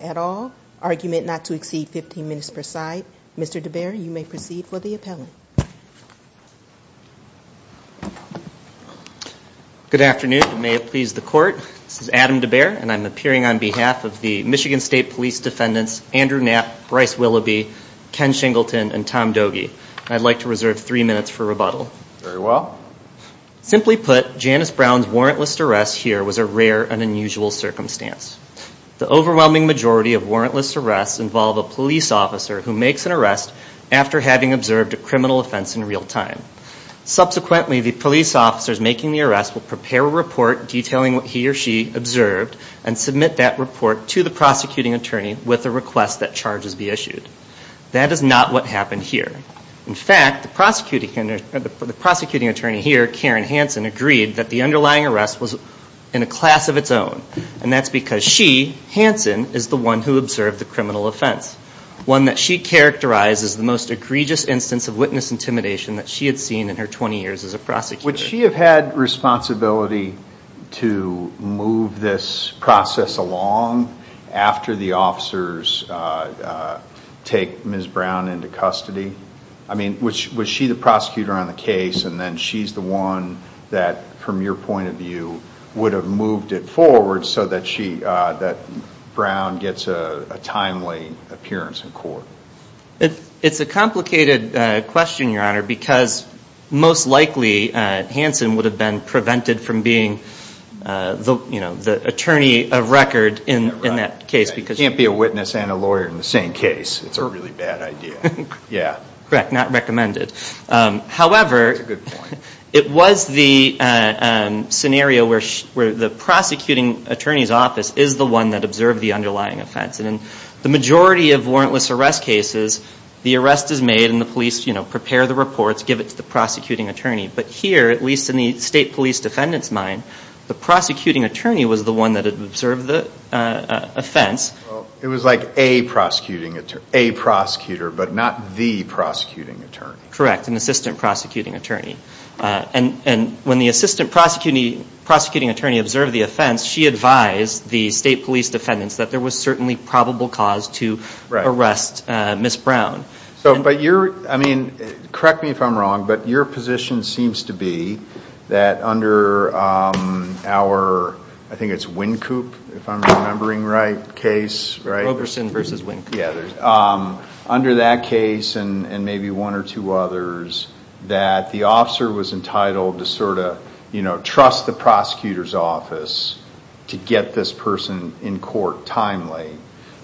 at all. Argument not to exceed 15 minutes per side. Mr. DeBaer, you may proceed for the appellant. Good afternoon. May it please the court, this is Adam DeBaer and I'm appearing on behalf of the Michigan State Police Defendants Andrew Knapp, Bryce Willoughby, Ken Shingleton and Tom Doege. I'd like to reserve three minutes for rebuttal. Very well. Simply put, Janice Brown's warrantless arrest here was a rare and unusual circumstance. The overwhelming majority of warrantless arrests involve a police officer who makes an arrest after having observed a criminal offense in real time. Subsequently, the police officers making the arrest will prepare a report detailing what he or she observed and submit that report to the prosecuting attorney with a request that charges be issued. That is not what happened here. In fact, the prosecuting attorney here, Karen Hanson, agreed that the underlying arrest was in a class of its own. And that's because she, Hanson, is the one who observed the criminal offense. One that she characterized as the most egregious instance of witness intimidation that she had seen in her 20 years as a prosecutor. Would she have had responsibility to move this process along after the officers take Ms. Brown into custody? I mean, was she the prosecutor on the case and then she's the one that, from your point of view, would have moved it forward so that Brown gets a timely appearance in court? It's a complicated question, Your Honor, because most likely Hanson would have been prevented from being the attorney of record in that case. You can't be a witness and a lawyer in the same case. It's a really bad idea. Correct. Not recommended. However, it was the scenario where the prosecuting attorney's office is the one that observed the underlying offense. And in the majority of warrantless arrest cases, the arrest is made and the police prepare the reports, give it to the prosecuting attorney. In the state police defendant's mind, the prosecuting attorney was the one that observed the offense. It was like a prosecutor, but not the prosecuting attorney. Correct. An assistant prosecuting attorney. And when the assistant prosecuting attorney observed the offense, she advised the state police defendants that there was certainly probable cause to arrest Ms. Brown. Correct me if I'm wrong, but your position seems to be that under our Winkoop case, under that case and maybe one or two others, that the officer was entitled to trust the prosecutor's office to get this person in court timely,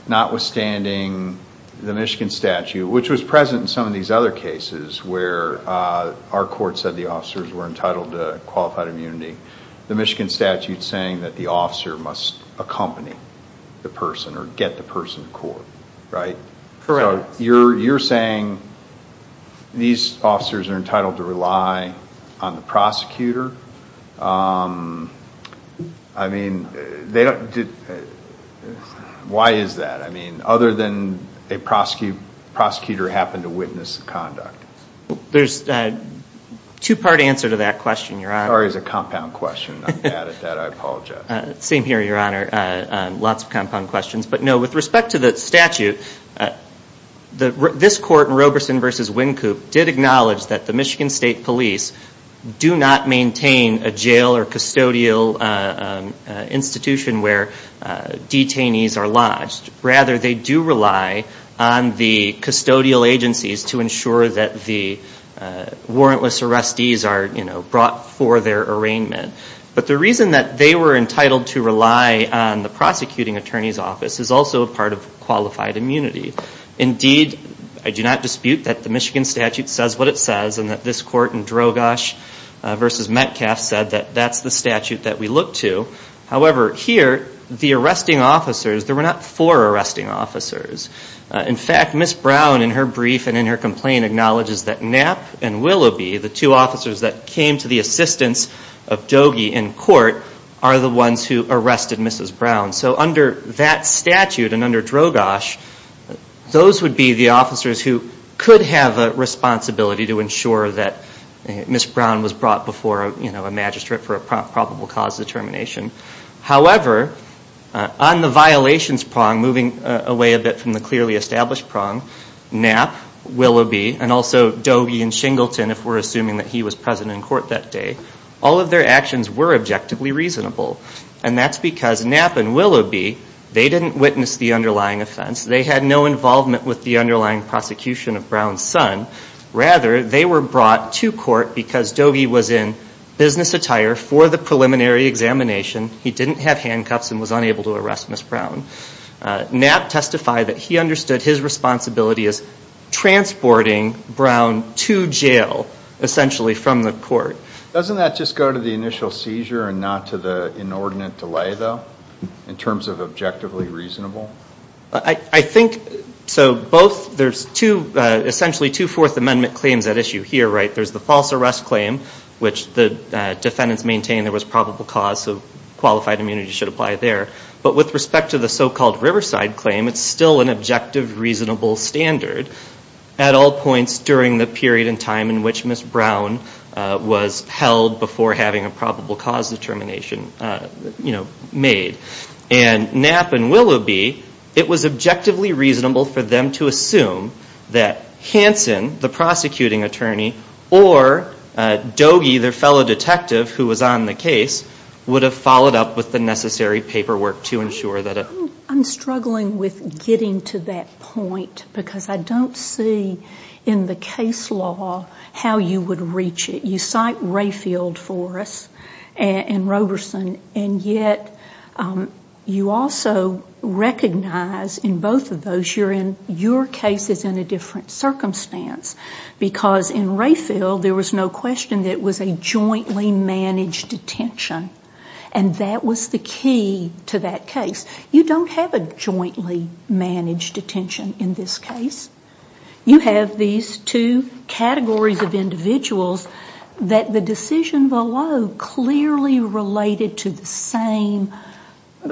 notwithstanding the Michigan statute, which was present in some of these other cases where our court said the officers were entitled to qualified immunity. The Michigan statute is saying that the officer must accompany the person or get the person to court, right? Correct. You're saying these officers are entitled to rely on the prosecutor? Why is that? Other than a prosecutor happened to witness the conduct? There's a two-part answer to that question, Your Honor. Sorry, it's a compound question. I'm bad at that. I apologize. Same here, Your Honor. Lots of compound questions. But no, with respect to the statute, this court in Roberson v. Winkoop did acknowledge that the Michigan State Police do not maintain a jail or custodial institution where detainees are lodged. Rather, they do rely on the custodial agencies to ensure that the warrantless arrestees are brought for their arraignment. But the reason that they were entitled to rely on the prosecuting attorney's office is also a part of qualified immunity. Indeed, I do not dispute that the Michigan statute says what it says and that this court in Drogosh v. Metcalfe said that that's the statute that we look to. However, here, the arresting officers, there were not four arresting officers. In fact, Ms. Brown in her brief and in her complaint acknowledges that Knapp and Willoughby, the two officers that came to the assistance of Doege in court, are the ones who arrested Mrs. Brown. So under that statute and under Drogosh, those would be the officers who could have a response ability to ensure that Ms. Brown was brought before a magistrate for a probable cause determination. However, on the violations prong, moving away a bit from the clearly established prong, Knapp, Willoughby, and also Doege and Shingleton, if we're assuming that he was present in court that day, all of their actions were objectively reasonable. And that's because Knapp and Willoughby, they didn't witness the underlying offense. They had no involvement with the underlying prosecution of Brown's son. Rather, they were brought to court because Doege was in business attire for the preliminary examination. He didn't have handcuffs and was unable to arrest Ms. Brown. Knapp testified that he understood his responsibility as transporting Brown to jail, essentially from the court. Doesn't that just go to the initial seizure and not to the inordinate delay, though, in terms of objectively reasonable? I think, so both, there's two, essentially two Fourth Amendment claims at issue here, right? There's the false arrest claim, which the defendants maintained there was probable cause, so qualified immunity should apply there. But with respect to the so-called Riverside claim, it's still an objective, reasonable standard at all points during the period and time in which Ms. Brown was held before having a probable cause determination made. And Knapp and Willoughby, it was objectively reasonable for them to assume that Hanson, the prosecuting attorney, or Doege, their fellow detective who was on the case, would have followed up with the necessary paperwork to ensure that it... I'm struggling with getting to that point because I don't see in the case law how you would reach it. You cite Rayfield for us and Roberson, and yet you also recognize in both of those, you're in, your case is in a different circumstance because in Rayfield there was no question that it was a jointly managed detention. And that was the key to that case. You don't have a jointly managed detention in this case. You have these two categories of individuals that the decision below clearly related to the same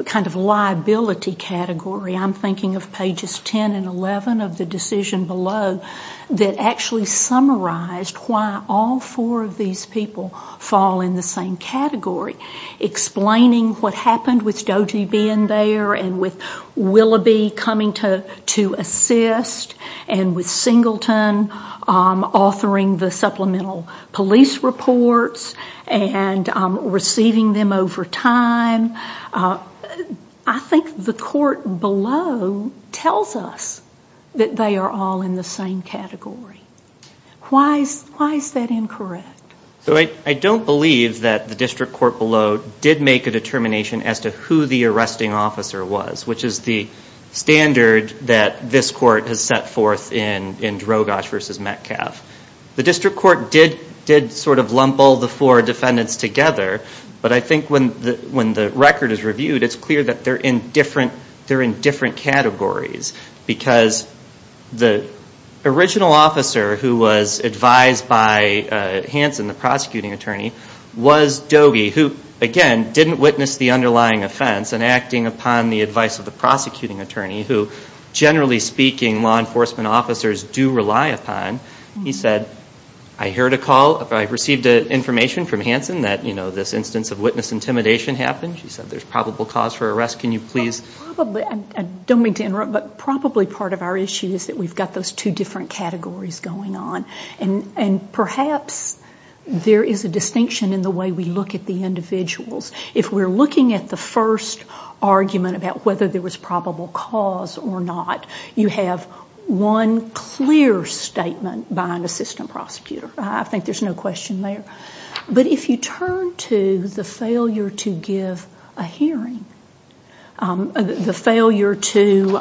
kind of liability category. I'm thinking of pages 10 and 11 of the decision below that actually summarized why all four of these people fall in the same category, explaining what happened with Doege being there and with Willoughby coming to assist and with Singleton, all three honoring the supplemental police reports and receiving them over time. I think the court below tells us that they are all in the same category. Why is that incorrect? I don't believe that the district court below did make a determination as to who the arresting officer was, which is the standard that this court has set forth in Drogosch v. Metcalf. The district court did sort of lump all the four defendants together, but I think when the record is reviewed it's clear that they're in different categories because the original officer who was advised by Hanson, the prosecuting attorney, was Doege, who again didn't witness the underlying offense and acting upon the advice of the prosecuting attorney, who generally speaking law enforcement officers do rely upon. He said, I heard a call, I received information from Hanson that this instance of witness intimidation happened. She said there's probable cause for arrest. Can you please? Probably, I don't mean to interrupt, but probably part of our issue is that we've got those two different categories going on. And perhaps there is a distinction in the way we look at the individuals. If we're looking at the first argument about whether there was probable cause or not, you have one clear statement by an assistant prosecutor. I think there's no question there. But if you turn to the failure to give a hearing, the failure to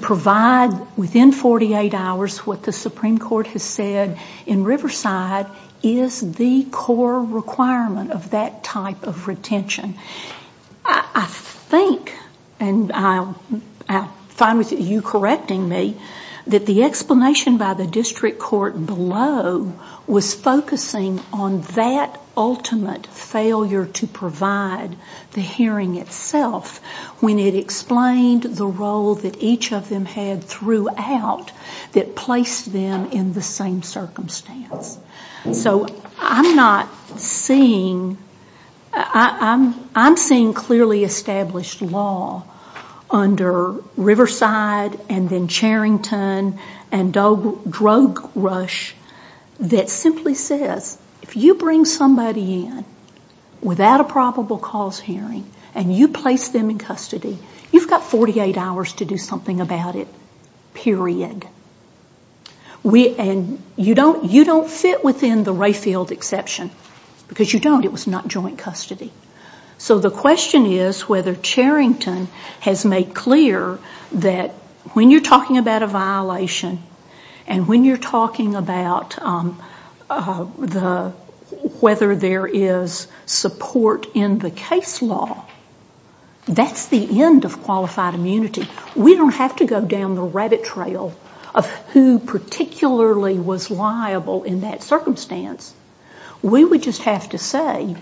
provide within 48 hours what the Supreme Court has said in Riverside is the core requirement of that type of retention. I think, and I'm fine with you correcting me, that the explanation by the district court below was focusing on that ultimate failure to provide the hearing itself when it explained the role that each of them had throughout that placed them in the same circumstance. So I'm not seeing, I'm seeing clearly established law under Riverside and then Charrington and drug rush that simply says if you bring somebody in without a probable cause hearing and you place them in custody, you've got 48 hours to do something about it, period. And you don't fit within the Rayfield exception, because you don't, it was not joint custody. So the question is whether Charrington has made clear that when you're talking about a violation and when you're talking about whether there is support in the case law, that's the end of qualified immunity. We don't have to go down the rabbit trail of who particularly was liable in that circumstance. We would just have to say,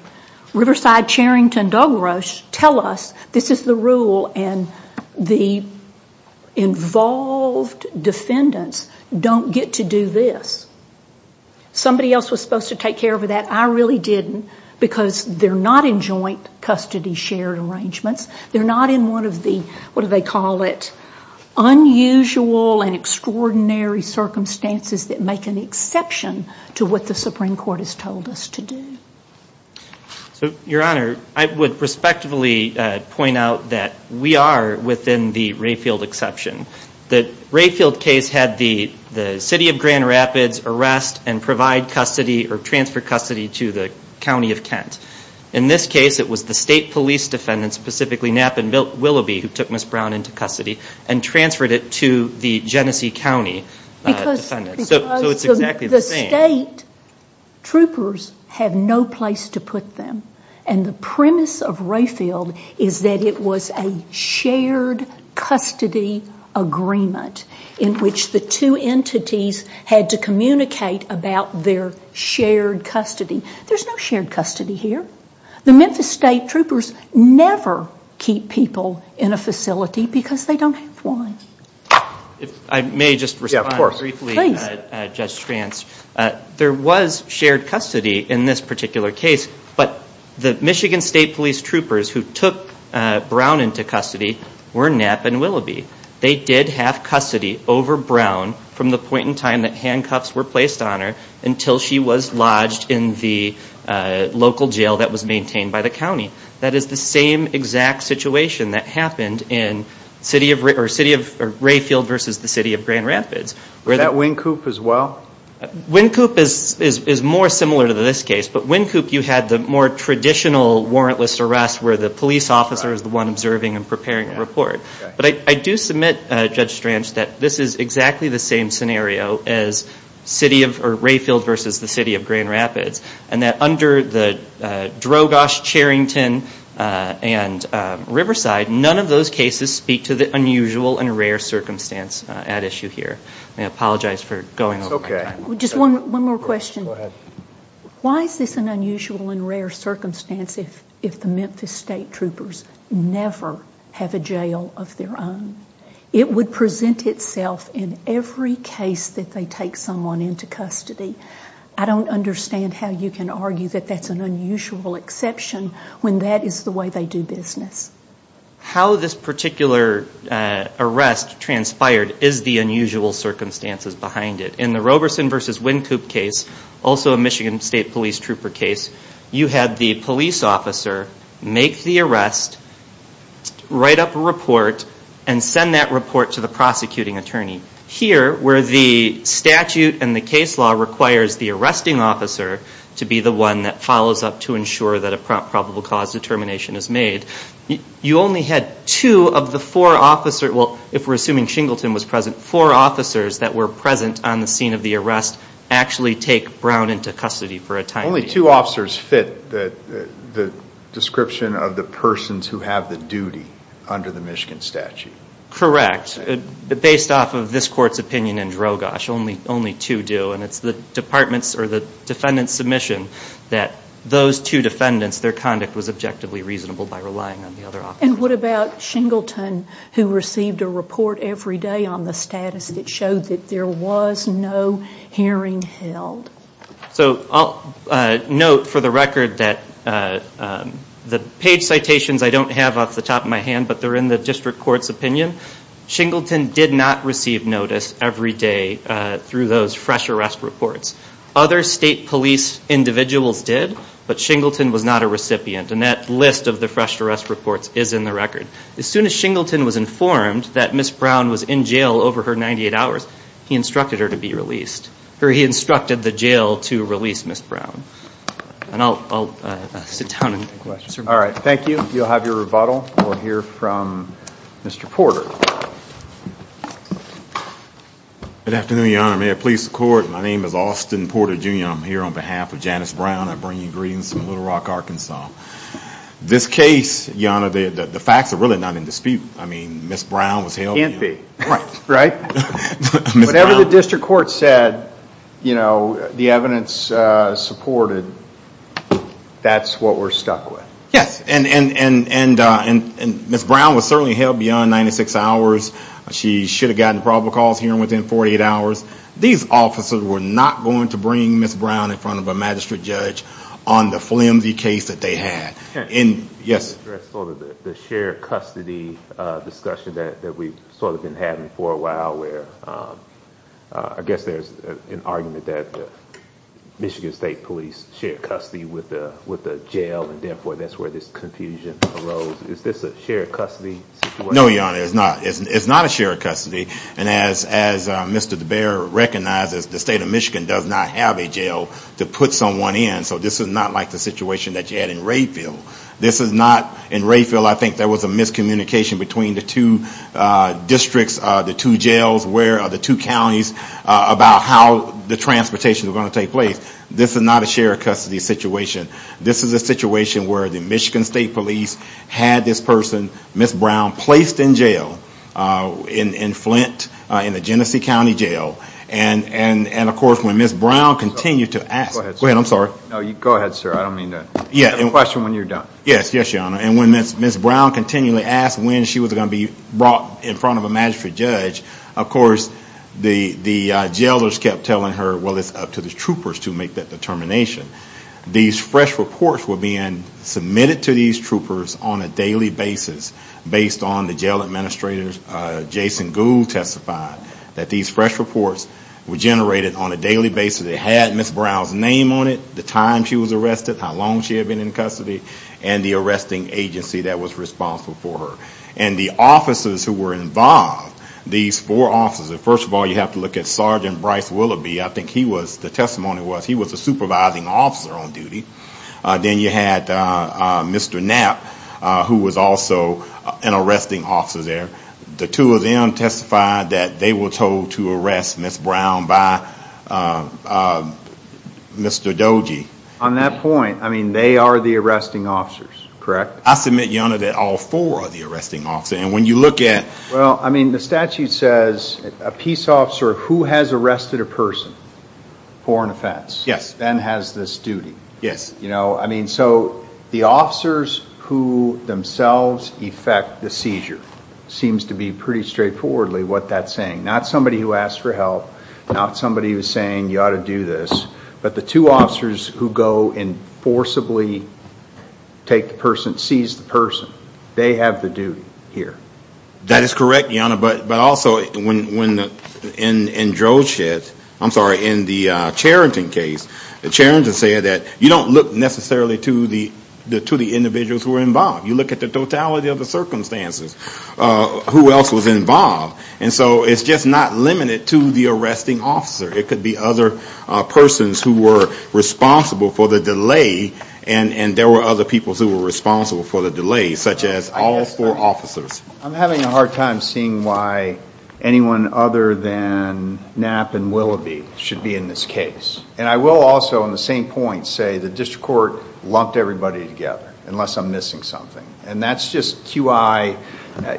Riverside, Charrington, drug rush, tell us this is the rule and the involved defendants don't get to do this. Somebody else was supposed to take care of that. I really didn't, because they're not in joint custody shared arrangements. They're not in one of the, what do they call it, unusual and extraordinary circumstances that make an exception to what the Supreme Court has told us to do. So, Your Honor, I would respectively point out that we are within the Rayfield exception. The Rayfield case had the city of Grand Rapids arrest and provide custody or transfer custody to the county of Kent. In this case, it was the state police defendants, specifically Knapp and Willoughby, who took Ms. Brown into custody and transferred it to the Genesee County defendants. So it's exactly the same. Because the state troopers have no place to put them. And the premise of Rayfield is that it was a shared custody agreement in which the two entities had to communicate about their shared custody. There's no shared custody here. The Memphis State troopers never keep people in a facility because they don't have one. I may just respond briefly, Judge Strantz. There was shared custody in this particular case, but the Michigan State Police troopers who took Brown into custody were Knapp and Willoughby. They did have custody over Brown from the point in time that handcuffs were in place until she was lodged in the local jail that was maintained by the county. That is the same exact situation that happened in city of Rayfield versus the city of Grand Rapids. Was that Wynkoop as well? Wynkoop is more similar to this case. But Wynkoop, you had the more traditional warrantless arrest where the police officer is the one observing and preparing a report. I do submit, Judge Strantz, that this is exactly the same scenario as Rayfield versus the city of Grand Rapids. And that under the Drogosh, Charrington, and Riverside, none of those cases speak to the unusual and rare circumstance at issue here. I apologize for going over my time. One more question. Why is this an unusual and rare circumstance if the Memphis State troopers never have a jail of their own? It would present itself in every case that they take someone into custody. I don't understand how you can argue that that's an unusual exception when that is the way they do business. How this particular arrest transpired is the unusual circumstances behind it. In the Roberson versus Wynkoop case, also a Michigan State police trooper case, you had the police officer make the arrest, write up a report, and send that report to the prosecuting attorney. Here where the statute and the case law requires the arresting officer to be the one that follows up to ensure that a probable cause determination is made, you only had two of the four officers – well, if we're assuming Shingleton was present – four officers that were present on the scene of the arrest actually take Brown into custody for a time. Only two officers fit the description of the persons who have the duty under the Michigan statute. Correct. But based off of this Court's opinion in Drogosh, only two do. And it's the department's or the defendant's submission that those two defendants, their conduct was objectively reasonable by relying on the other officers. And what about Shingleton, who received a report every day on the status that showed that there was no hearing held? So I'll note for the record that the page citations I don't have off the top of my hand, but they're in the District Court's opinion. Shingleton did not receive notice every day through those fresh arrest reports. Other state police individuals did, but Shingleton was not a recipient. And that list of the fresh arrest reports is in the record. As soon as Shingleton was informed that Ms. Brown was in jail over her 98 hours, he instructed her to be released. Or he instructed the jail to release Ms. Brown. And I'll sit down and answer questions. All right. Thank you. You'll have your rebuttal. We'll hear from Mr. Porter. Good afternoon, Your Honor. Mayor of the Police Department, my name is Austin Porter, Jr. I'm here on behalf of Janice Brown. I bring you greetings from Little Rock, Arkansas. This case, Your Honor, the facts are really not in dispute. I mean, Ms. Brown was held beyond 96 hours. She should have gotten probable cause hearing within 48 hours. These officers were not going to bring Ms. Brown in front of a magistrate judge on the flimsy case that they had. Can I address sort of the shared custody discussion that we've sort of been having for a while, where I guess there's an argument that Michigan State Police shared custody with a jail, and therefore that's where this confusion arose. Is this a shared custody situation? No, Your Honor, it's not. It's not a shared custody. And as Mr. DeBaere recognizes, the State of Michigan does not have a jail to put someone in, so this is not like the situation that you had in Rayfield. This is not, in Rayfield I think there was a miscommunication between the two districts, the two jails, the two counties, about how the transportation was going to take place. This is not a shared custody situation. This is a situation where the Michigan State Police had this person, Ms. Brown, placed in jail in Flint, in the Flint area. Yes, Your Honor. And when Ms. Brown continually asked when she was going to be brought in front of a magistrate judge, of course the jailers kept telling her, well it's up to the troopers to make that determination. These fresh reports were being submitted to these troopers on a daily basis, based on the jail administrators, Jason Gould testified, that these fresh reports were generated on a daily basis. They had Ms. Brown's name on it, the time she was arrested, how long she had been in custody, and the arresting agency that was responsible for her. And the officers who were involved, these four officers, first of all you have to look at Sergeant Bryce Willoughby, I think he was, the testimony was he was a supervising officer on duty. Then you had Mr. Knapp, who was also an arresting officer there. The two of them testified that they were told to arrest Ms. Brown by Mr. Doji. On that point, I mean they are the arresting officers, correct? I submit, Your Honor, that all four are the arresting officers. And when you look at... Well, I mean the statute says a peace officer who has arrested a person for an offense. Yes. Then has this duty. Yes. You know, I mean, so the officers who themselves effect the seizure seems to be pretty straightforwardly what that's saying. Not somebody who asked for help, not somebody who's saying you ought to do this. But the two officers who go and forcibly take the person, seize the person, they have the duty here. That is correct, Your Honor. But also, in the Charrington case, the Charrington said that you don't look necessarily to the individuals who were involved. You look at the totality of the circumstances. Who else was involved? And so it's just not limited to the arresting officer. It could be other persons who were responsible for the delay, and there were other people who were responsible for the delay, such as all four officers. I'm having a hard time seeing why anyone other than Knapp and Willoughby should be in this case. And I will also, on the same point, say the district court lumped everybody together, unless I'm missing something. And that's just QI,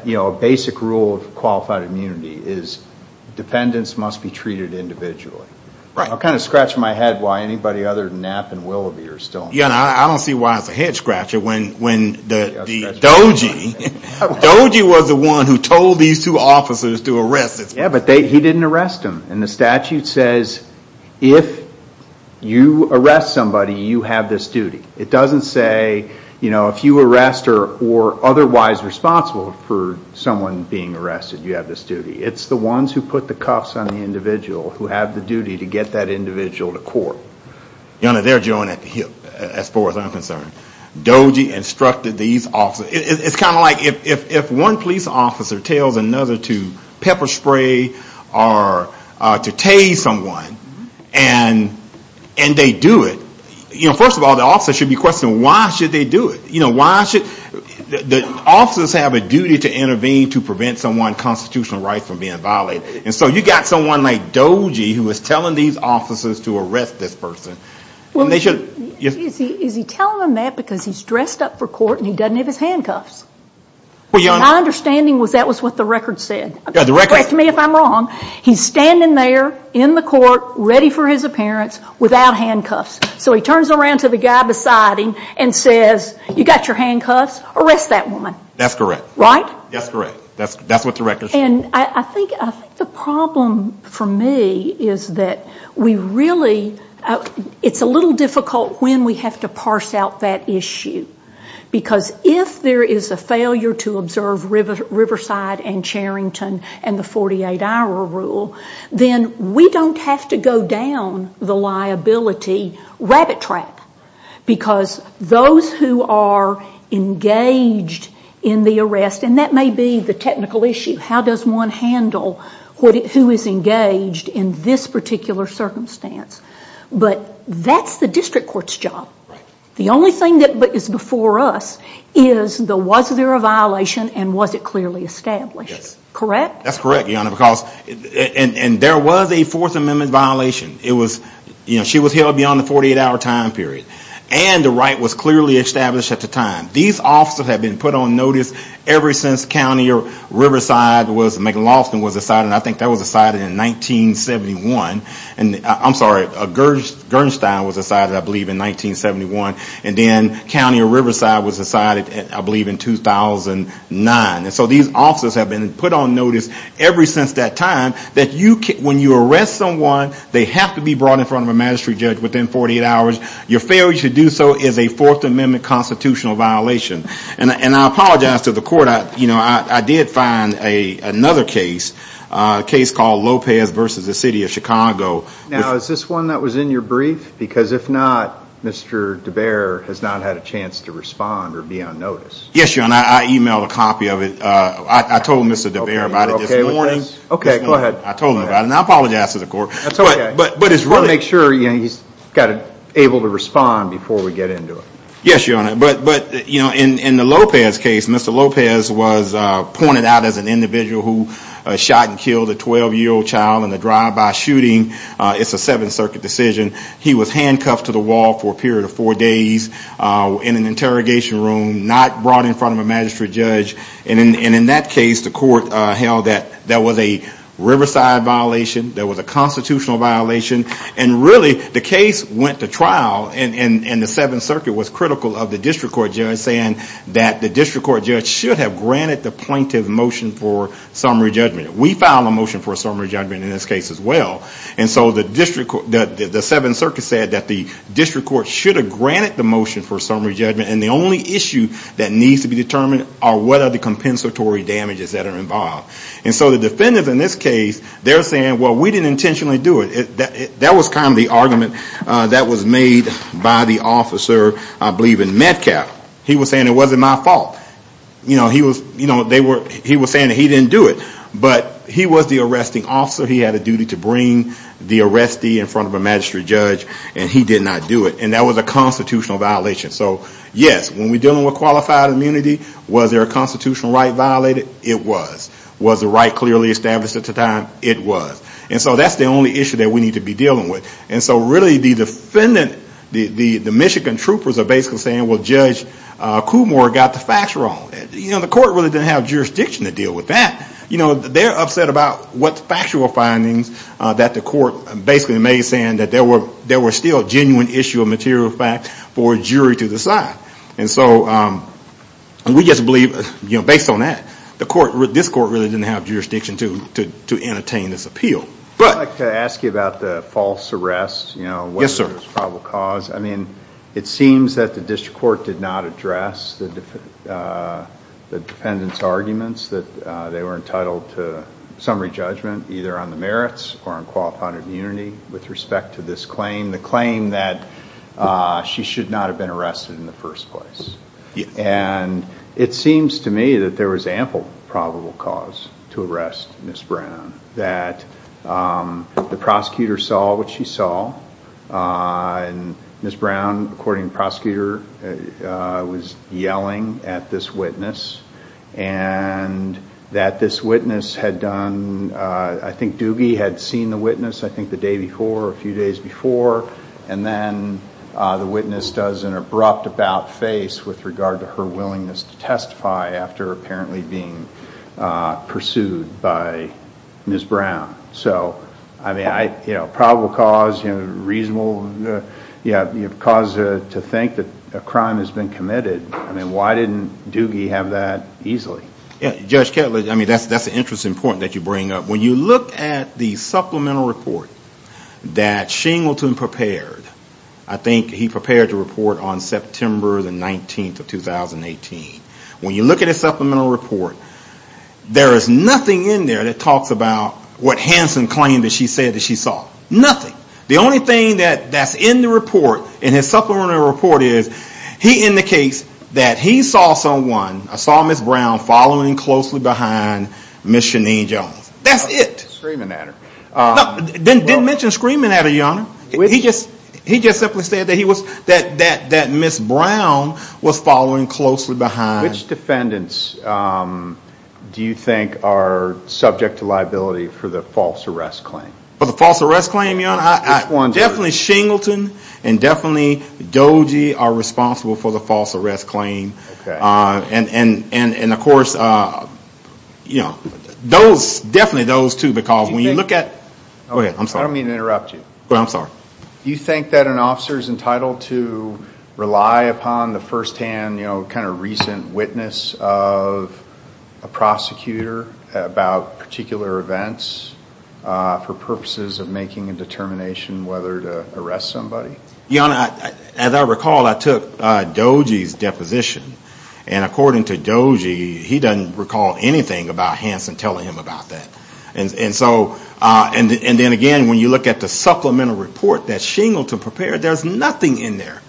you know, a basic rule of qualified immunity, is defendants must be treated individually. I'll kind of scratch my head why anybody other than Knapp and Willoughby are still in this case. Your Honor, I don't see why it's a head-scratcher when Doji, Doji was the one who told these two officers to arrest this person. Yeah, but he didn't arrest him. And the statute says if you arrest somebody, you have this duty. It's the ones who put the cuffs on the individual who have the duty to get that individual to court. Your Honor, they're joined at the hip, as far as I'm concerned. Doji instructed these officers. It's kind of like if one police officer tells another to pepper spray or to tase someone, and they do it, you know, first of all, the officer should be questioning constitutional rights from being violated. And so you've got someone like Doji who was telling these officers to arrest this person. Well, is he telling them that because he's dressed up for court and he doesn't have his handcuffs? Well, Your Honor... My understanding was that was what the record said. Yeah, the record... Correct me if I'm wrong. He's standing there in the court, ready for his appearance, without handcuffs. So he turns around to the guy beside him and says, you got your handcuffs? Arrest that woman. That's correct. Right? That's correct. That's what the record said. And I think the problem for me is that we really...it's a little difficult when we have to parse out that issue. Because if there is a failure to observe Riverside and Charrington and the 48-hour rule, then we don't have to go down the liability rabbit track. Because those who are engaged in the arrest...and that may be the technical issue. How does one handle who is engaged in this particular circumstance? But that's the district court's job. The only thing that is before us is was there a violation and was it clearly established? Yes. Correct? That's correct, Your Honor. And there was a Fourth Amendment violation. She was held beyond the 48-hour time period. And the right was clearly established at the time. These officers have been put on notice ever since County or Riverside was...McLaughlin was decided. I think that was decided in 1971. I'm sorry, Gernstein was decided, I believe, in 1971. And then County or Riverside was decided, I believe, in 2009. And so these officers have been put on notice ever since that time. When you arrest someone, they have to be brought in front of a magistrate judge within 48 hours. Your failure to do so is a Fourth Amendment constitutional violation. And I apologize to the court. I did find another case, a case called Lopez v. The City of Chicago. Now, is this one that was in your brief? Because if not, Mr. DeBere has not had a chance to respond or be on notice. Yes, Your Honor. I emailed a copy of it. I told Mr. DeBere about it this morning. Okay, go ahead. I told him about it, and I apologize to the court. That's okay. But it's really... We'll make sure he's able to respond before we get into it. Yes, Your Honor. But in the Lopez case, Mr. Lopez was pointed out as an individual who shot and killed a 12-year-old child in a drive-by shooting. It's a Seventh Circuit decision. He was handcuffed to the wall for a period of four days in an interrogation room, not brought in front of a magistrate judge. And in that case, the court held that that was a Riverside violation, that was a constitutional violation. And really, the case went to trial, and the Seventh Circuit was critical of the district court judge, saying that the district court judge should have granted the plaintiff motion for summary judgment. We filed a motion for a summary judgment in this case as well. And so the district court, the Seventh Circuit said that the district court should have granted the motion for summary judgment, and the only issue that needs to be determined are what are the compensatory damages that are involved. And so the defendants in this case, they're saying, well, we didn't intentionally do it. That was kind of the argument that was made by the officer, I believe in Metcalf. He was saying it wasn't my fault. He was saying that he didn't do it. But he was the arresting officer. He had a duty to bring the arrestee in front of a magistrate judge, and he did not do it. And that was a constitutional violation. So yes, when we're dealing with qualified immunity, was there a constitutional right violated? It was. Was the right clearly established at the time? It was. And so that's the only issue that we need to be dealing with. And so really the Michigan troopers are basically saying, well, Judge Coomore got the facts wrong. The court really didn't have jurisdiction to deal with that. They're upset about what factual findings that the court basically made, saying that there were still genuine issue of material facts for a jury to decide. And so we just believe, based on that, this court really didn't have jurisdiction to entertain this appeal. I'd like to ask you about the false arrest, whether there was probable cause. I mean, it seems that the district court did not address the defendants' arguments that they were entitled to summary judgment, either on the merits or on qualified immunity, with respect to this claim, the claim that she should not have been arrested in the first place. And it seems to me that there was ample probable cause to arrest Ms. Brown, that the prosecutor saw what she saw, and Ms. Brown, according to the prosecutor, was yelling at this witness, and that this witness had done, I think Doogie had seen the witness, I think the day before or a few days before, and then the witness does an abrupt about-face with regard to her willingness to testify after apparently being pursued by Ms. Brown. So, I mean, probable cause, reasonable cause to think that a crime has been committed, I mean, why didn't Doogie have that easily? Judge Kettler, I mean, that's an interesting point that you bring up. When you look at the supplemental report that Shingleton prepared, I think he prepared the report on September the 19th of 2018. When you look at his supplemental report, there is nothing in there that talks about what Hanson claimed that she said that she saw. Nothing. The only thing that's in the report, in his supplemental report, is he indicates that he saw someone, saw Ms. Brown, following closely behind Ms. Sheneane Jones. That's it. Screaming at her. He didn't mention screaming at her, Your Honor. He just simply said that Ms. Brown was following closely behind. Which defendants do you think are subject to liability for the false arrest claim? For the false arrest claim, Your Honor? Which ones are? Definitely Shingleton, and definitely Doogie are responsible for the false arrest claim, and of course, you know, definitely those two because when you look at... I don't mean to interrupt you. You think that an officer is entitled to rely upon the firsthand, you know, kind of recent witness of a prosecutor about particular events for purposes of making a determination whether to arrest somebody? Your Honor, as I recall, I took Doogie's deposition, and according to Doogie, he doesn't recall anything about Hanson telling him about that. And so, and then again, when you look at the supplemental report that Shingleton prepared, there's nothing in there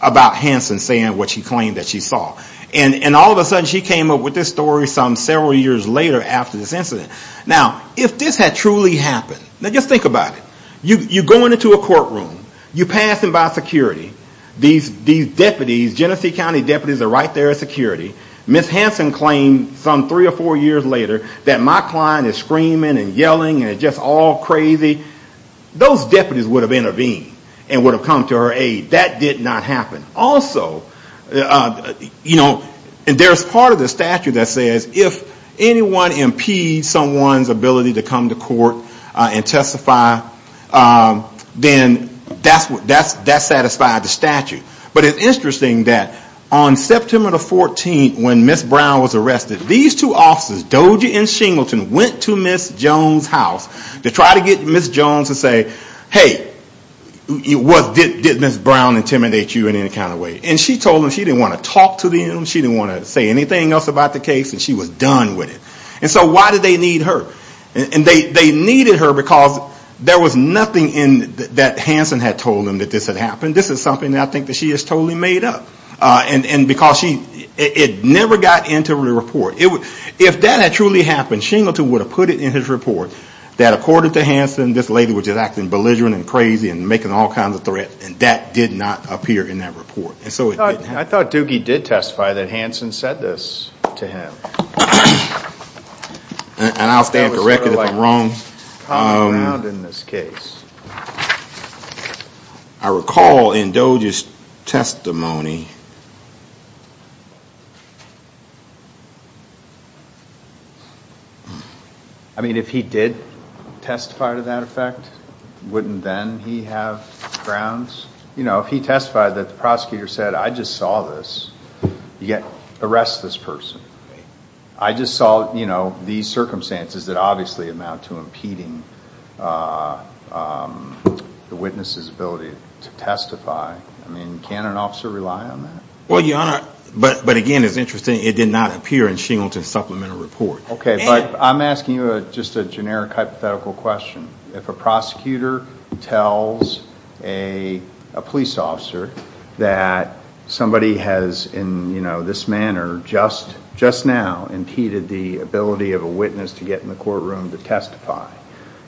about Hanson saying what she claimed that she saw. And all of a sudden, she came up with this story some several years later after this incident. Now, if this had truly happened, now just think about it. You go into a courtroom. You pass them by security. These deputies, Genesee County deputies are right there at security. Ms. Hanson claimed some three or four years later that my client is screaming and yelling and just all crazy. Those deputies would have intervened and would have come to her aid. That did not happen. Also, you know, there's part of the statute that says if anyone impedes someone's ability to come to court and testify, then that's satisfied the statute. But it's interesting that on September 14th, when Ms. Brown was arrested, these two officers, Doogie and Shingleton, went to Ms. Jones' house to try to get Ms. Jones to say, hey, did Ms. Brown intimidate you in any kind of way? And she told them she didn't want to talk to them, she didn't want to say anything else about the case, and she was done with it. And so why did they need her? They needed her because there was nothing that Hanson had told them that this had happened. This is something that I think she has totally made up. And because she, it never got into the report. If that had truly happened, Shingleton would have put it in his report that according to Hanson, this lady was just acting belligerent and crazy and making all kinds of threats, and that did not appear in that report. I thought Doogie did testify that Hanson said this to him. And I'll stand corrected if I'm wrong. I recall in Doogie's testimony... I mean, if he did testify to that effect, wouldn't then he have grounds? You know, if he testified that the prosecutor said, I just saw this, you can't arrest this person. I just saw, you know, these circumstances that obviously amount to impeding the witness's ability to testify. I mean, can an officer rely on that? Well, Your Honor, but again, it's interesting, it did not appear in Shingleton's supplemental report. Okay, but I'm asking you just a generic hypothetical question. If a prosecutor tells a police officer that somebody has in, you know, this manner just now impeded the ability of a witness to get in the courtroom to testify,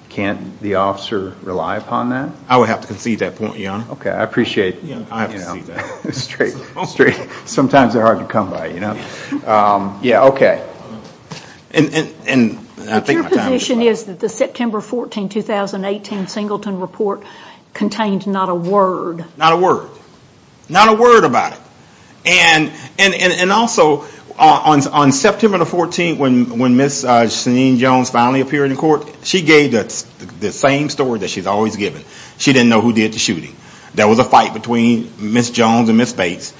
can't the officer rely upon that? I would have to concede that point, Your Honor. Okay, I appreciate that. Yeah, I would have to concede that. Sometimes they're hard to come by, you know. Yeah, okay. But your position is that the September 14, 2018, Shingleton report contained not a word. Not a word. Not a word about it. And also, on September the 14th, when Ms. Janine Jones finally appeared in court, she gave the same story that she's always given. She didn't know who did the shooting. There was a fight between Ms. Jones and Ms. Bates,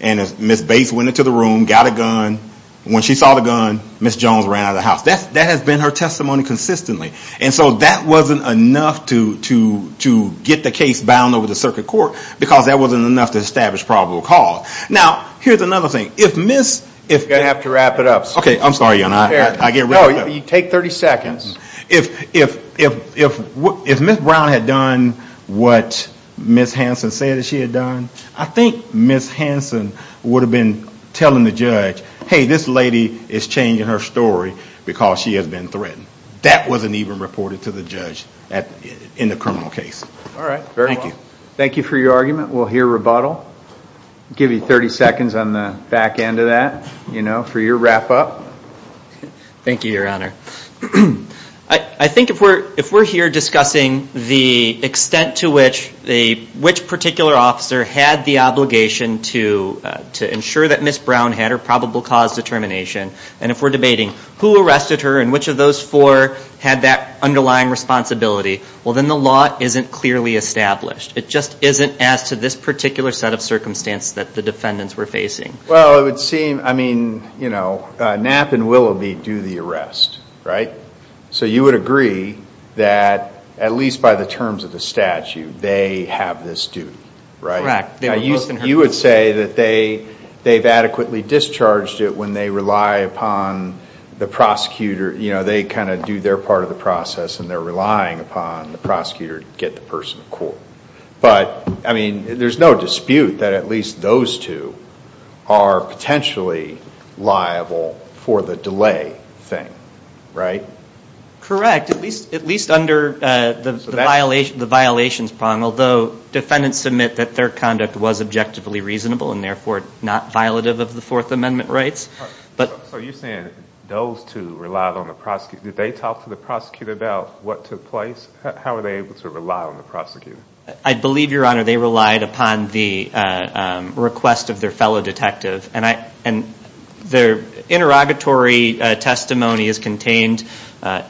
and Ms. Bates went into the room, got a gun, and when she saw the gun, Ms. Jones ran out of the house. That has been her testimony consistently. And so that wasn't enough to get the case bound over the circuit court, because that wasn't enough to establish probable cause. Now, here's another thing. If Ms. You're going to have to wrap it up, sir. Okay, I'm sorry, Your Honor. I get rid of it. No, you take 30 seconds. If Ms. Brown had done what Ms. Hanson said that she had done, I think Ms. Hanson would have been telling the judge, hey, this lady is changing her story because she has been threatened. That wasn't even reported to the judge in the criminal case. All right. Thank you. Thank you for your argument. We'll hear rebuttal. I'll give you 30 seconds on the back end of that for your wrap up. Thank you, Your Honor. I think if we're here discussing the extent to which a particular officer had the obligation to ensure that Ms. Brown had her probable cause determination, and if we're debating who arrested her and which of those four had that underlying responsibility, well then the law isn't clearly established. It just isn't as to this particular set of circumstance that the defendants were facing. Well, it would seem, I mean, you know, Knapp and Willoughby do the arrest, right? So you would agree that, at least by the terms of the statute, they have this due, right? Correct. They were both in her case. You would say that they've adequately discharged it when they rely upon the prosecutor, you know, relying upon the prosecutor to get the person to court. But, I mean, there's no dispute that at least those two are potentially liable for the delay thing, right? Correct. At least under the violations bond, although defendants admit that their conduct was objectively reasonable and therefore not violative of the Fourth Amendment rights. So you're saying those two relied on the prosecutor. Did they talk to the prosecutor about what took place? How were they able to rely on the prosecutor? I believe, Your Honor, they relied upon the request of their fellow detective. And their interrogatory testimony is contained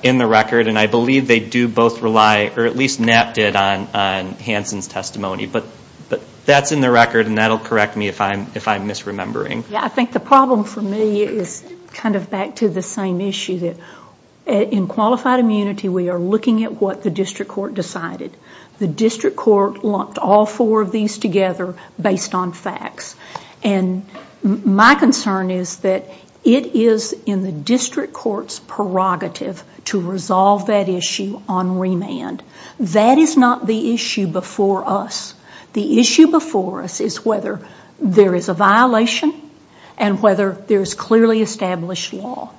in the record, and I believe they do both rely, or at least Knapp did, on Hanson's testimony. But that's in the record, and that'll correct me if I'm misremembering. I think the problem for me is kind of back to the same issue, that in qualified immunity we are looking at what the district court decided. The district court lumped all four of these together based on facts. And my concern is that it is in the district court's prerogative to resolve that issue on remand. That is not the issue before us. The issue before us is whether there is a violation and whether there is clearly established law.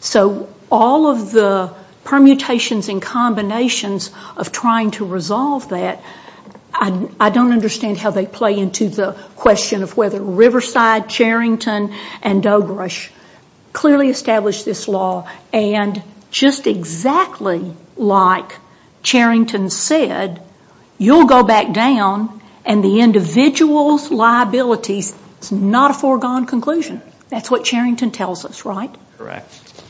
So all of the permutations and combinations of trying to resolve that, I don't understand how they play into the question of whether Riverside, Charrington, and Dogrush clearly established this law. And just exactly like Charrington said, you'll go back down and the individual's liabilities, it's not a foregone conclusion. That's what Charrington tells us, right? Correct.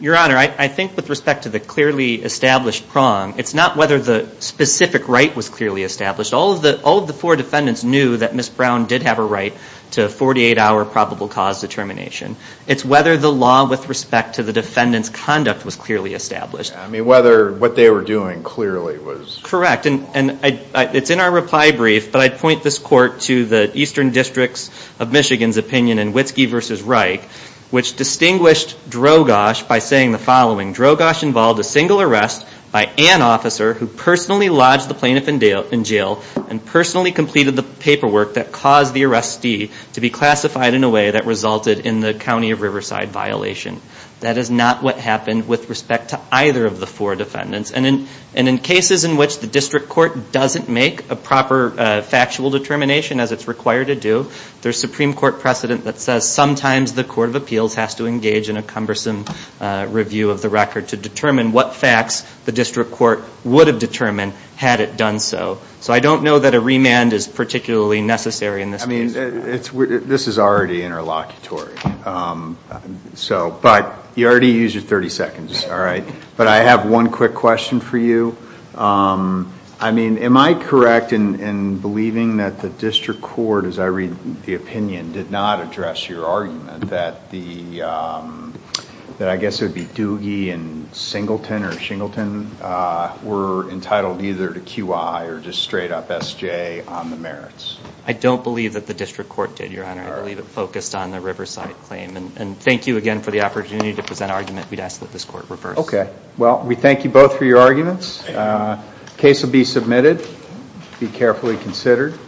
Your Honor, I think with respect to the clearly established prong, it's not whether the specific right was clearly established. All of the four defendants knew that Ms. Brown did have a right to a 48-hour probable cause determination. It's whether the law with respect to the defendant's conduct was clearly established. I mean, whether what they were doing clearly was... Correct. And it's in our reply brief, but I'd point this court to the eastern districts of Michigan's opinion in Witski v. Reich, which distinguished Drogosh by saying the following, Drogosh involved a single arrest by an officer who personally lodged the plaintiff in jail and personally completed the paperwork that caused the arrestee to be classified in a way that resulted in the County of Riverside violation. That is not what happened with respect to either of the four defendants. And in cases in which the district court doesn't make a proper factual determination as it's required to do, there's Supreme Court precedent that says sometimes the Court of Appeals has to engage in a cumbersome review of the record to determine what facts the district court would have determined had it done so. So I don't know that a remand is particularly necessary in this case. This is already interlocutory. But you already used your 30 seconds, all right? But I have one quick question for you. I mean, am I correct in believing that the district court, as I read the opinion, did not address your argument that I guess it would be Doogie and Singleton or Shingleton were entitled either to QI or just straight up SJ on the merits? I don't believe that the district court did, Your Honor. I believe it focused on the Riverside claim. And thank you again for the opportunity to present an argument. We'd ask that this court reverse. Okay. Well, we thank you both for your arguments. Case will be submitted. Be carefully considered.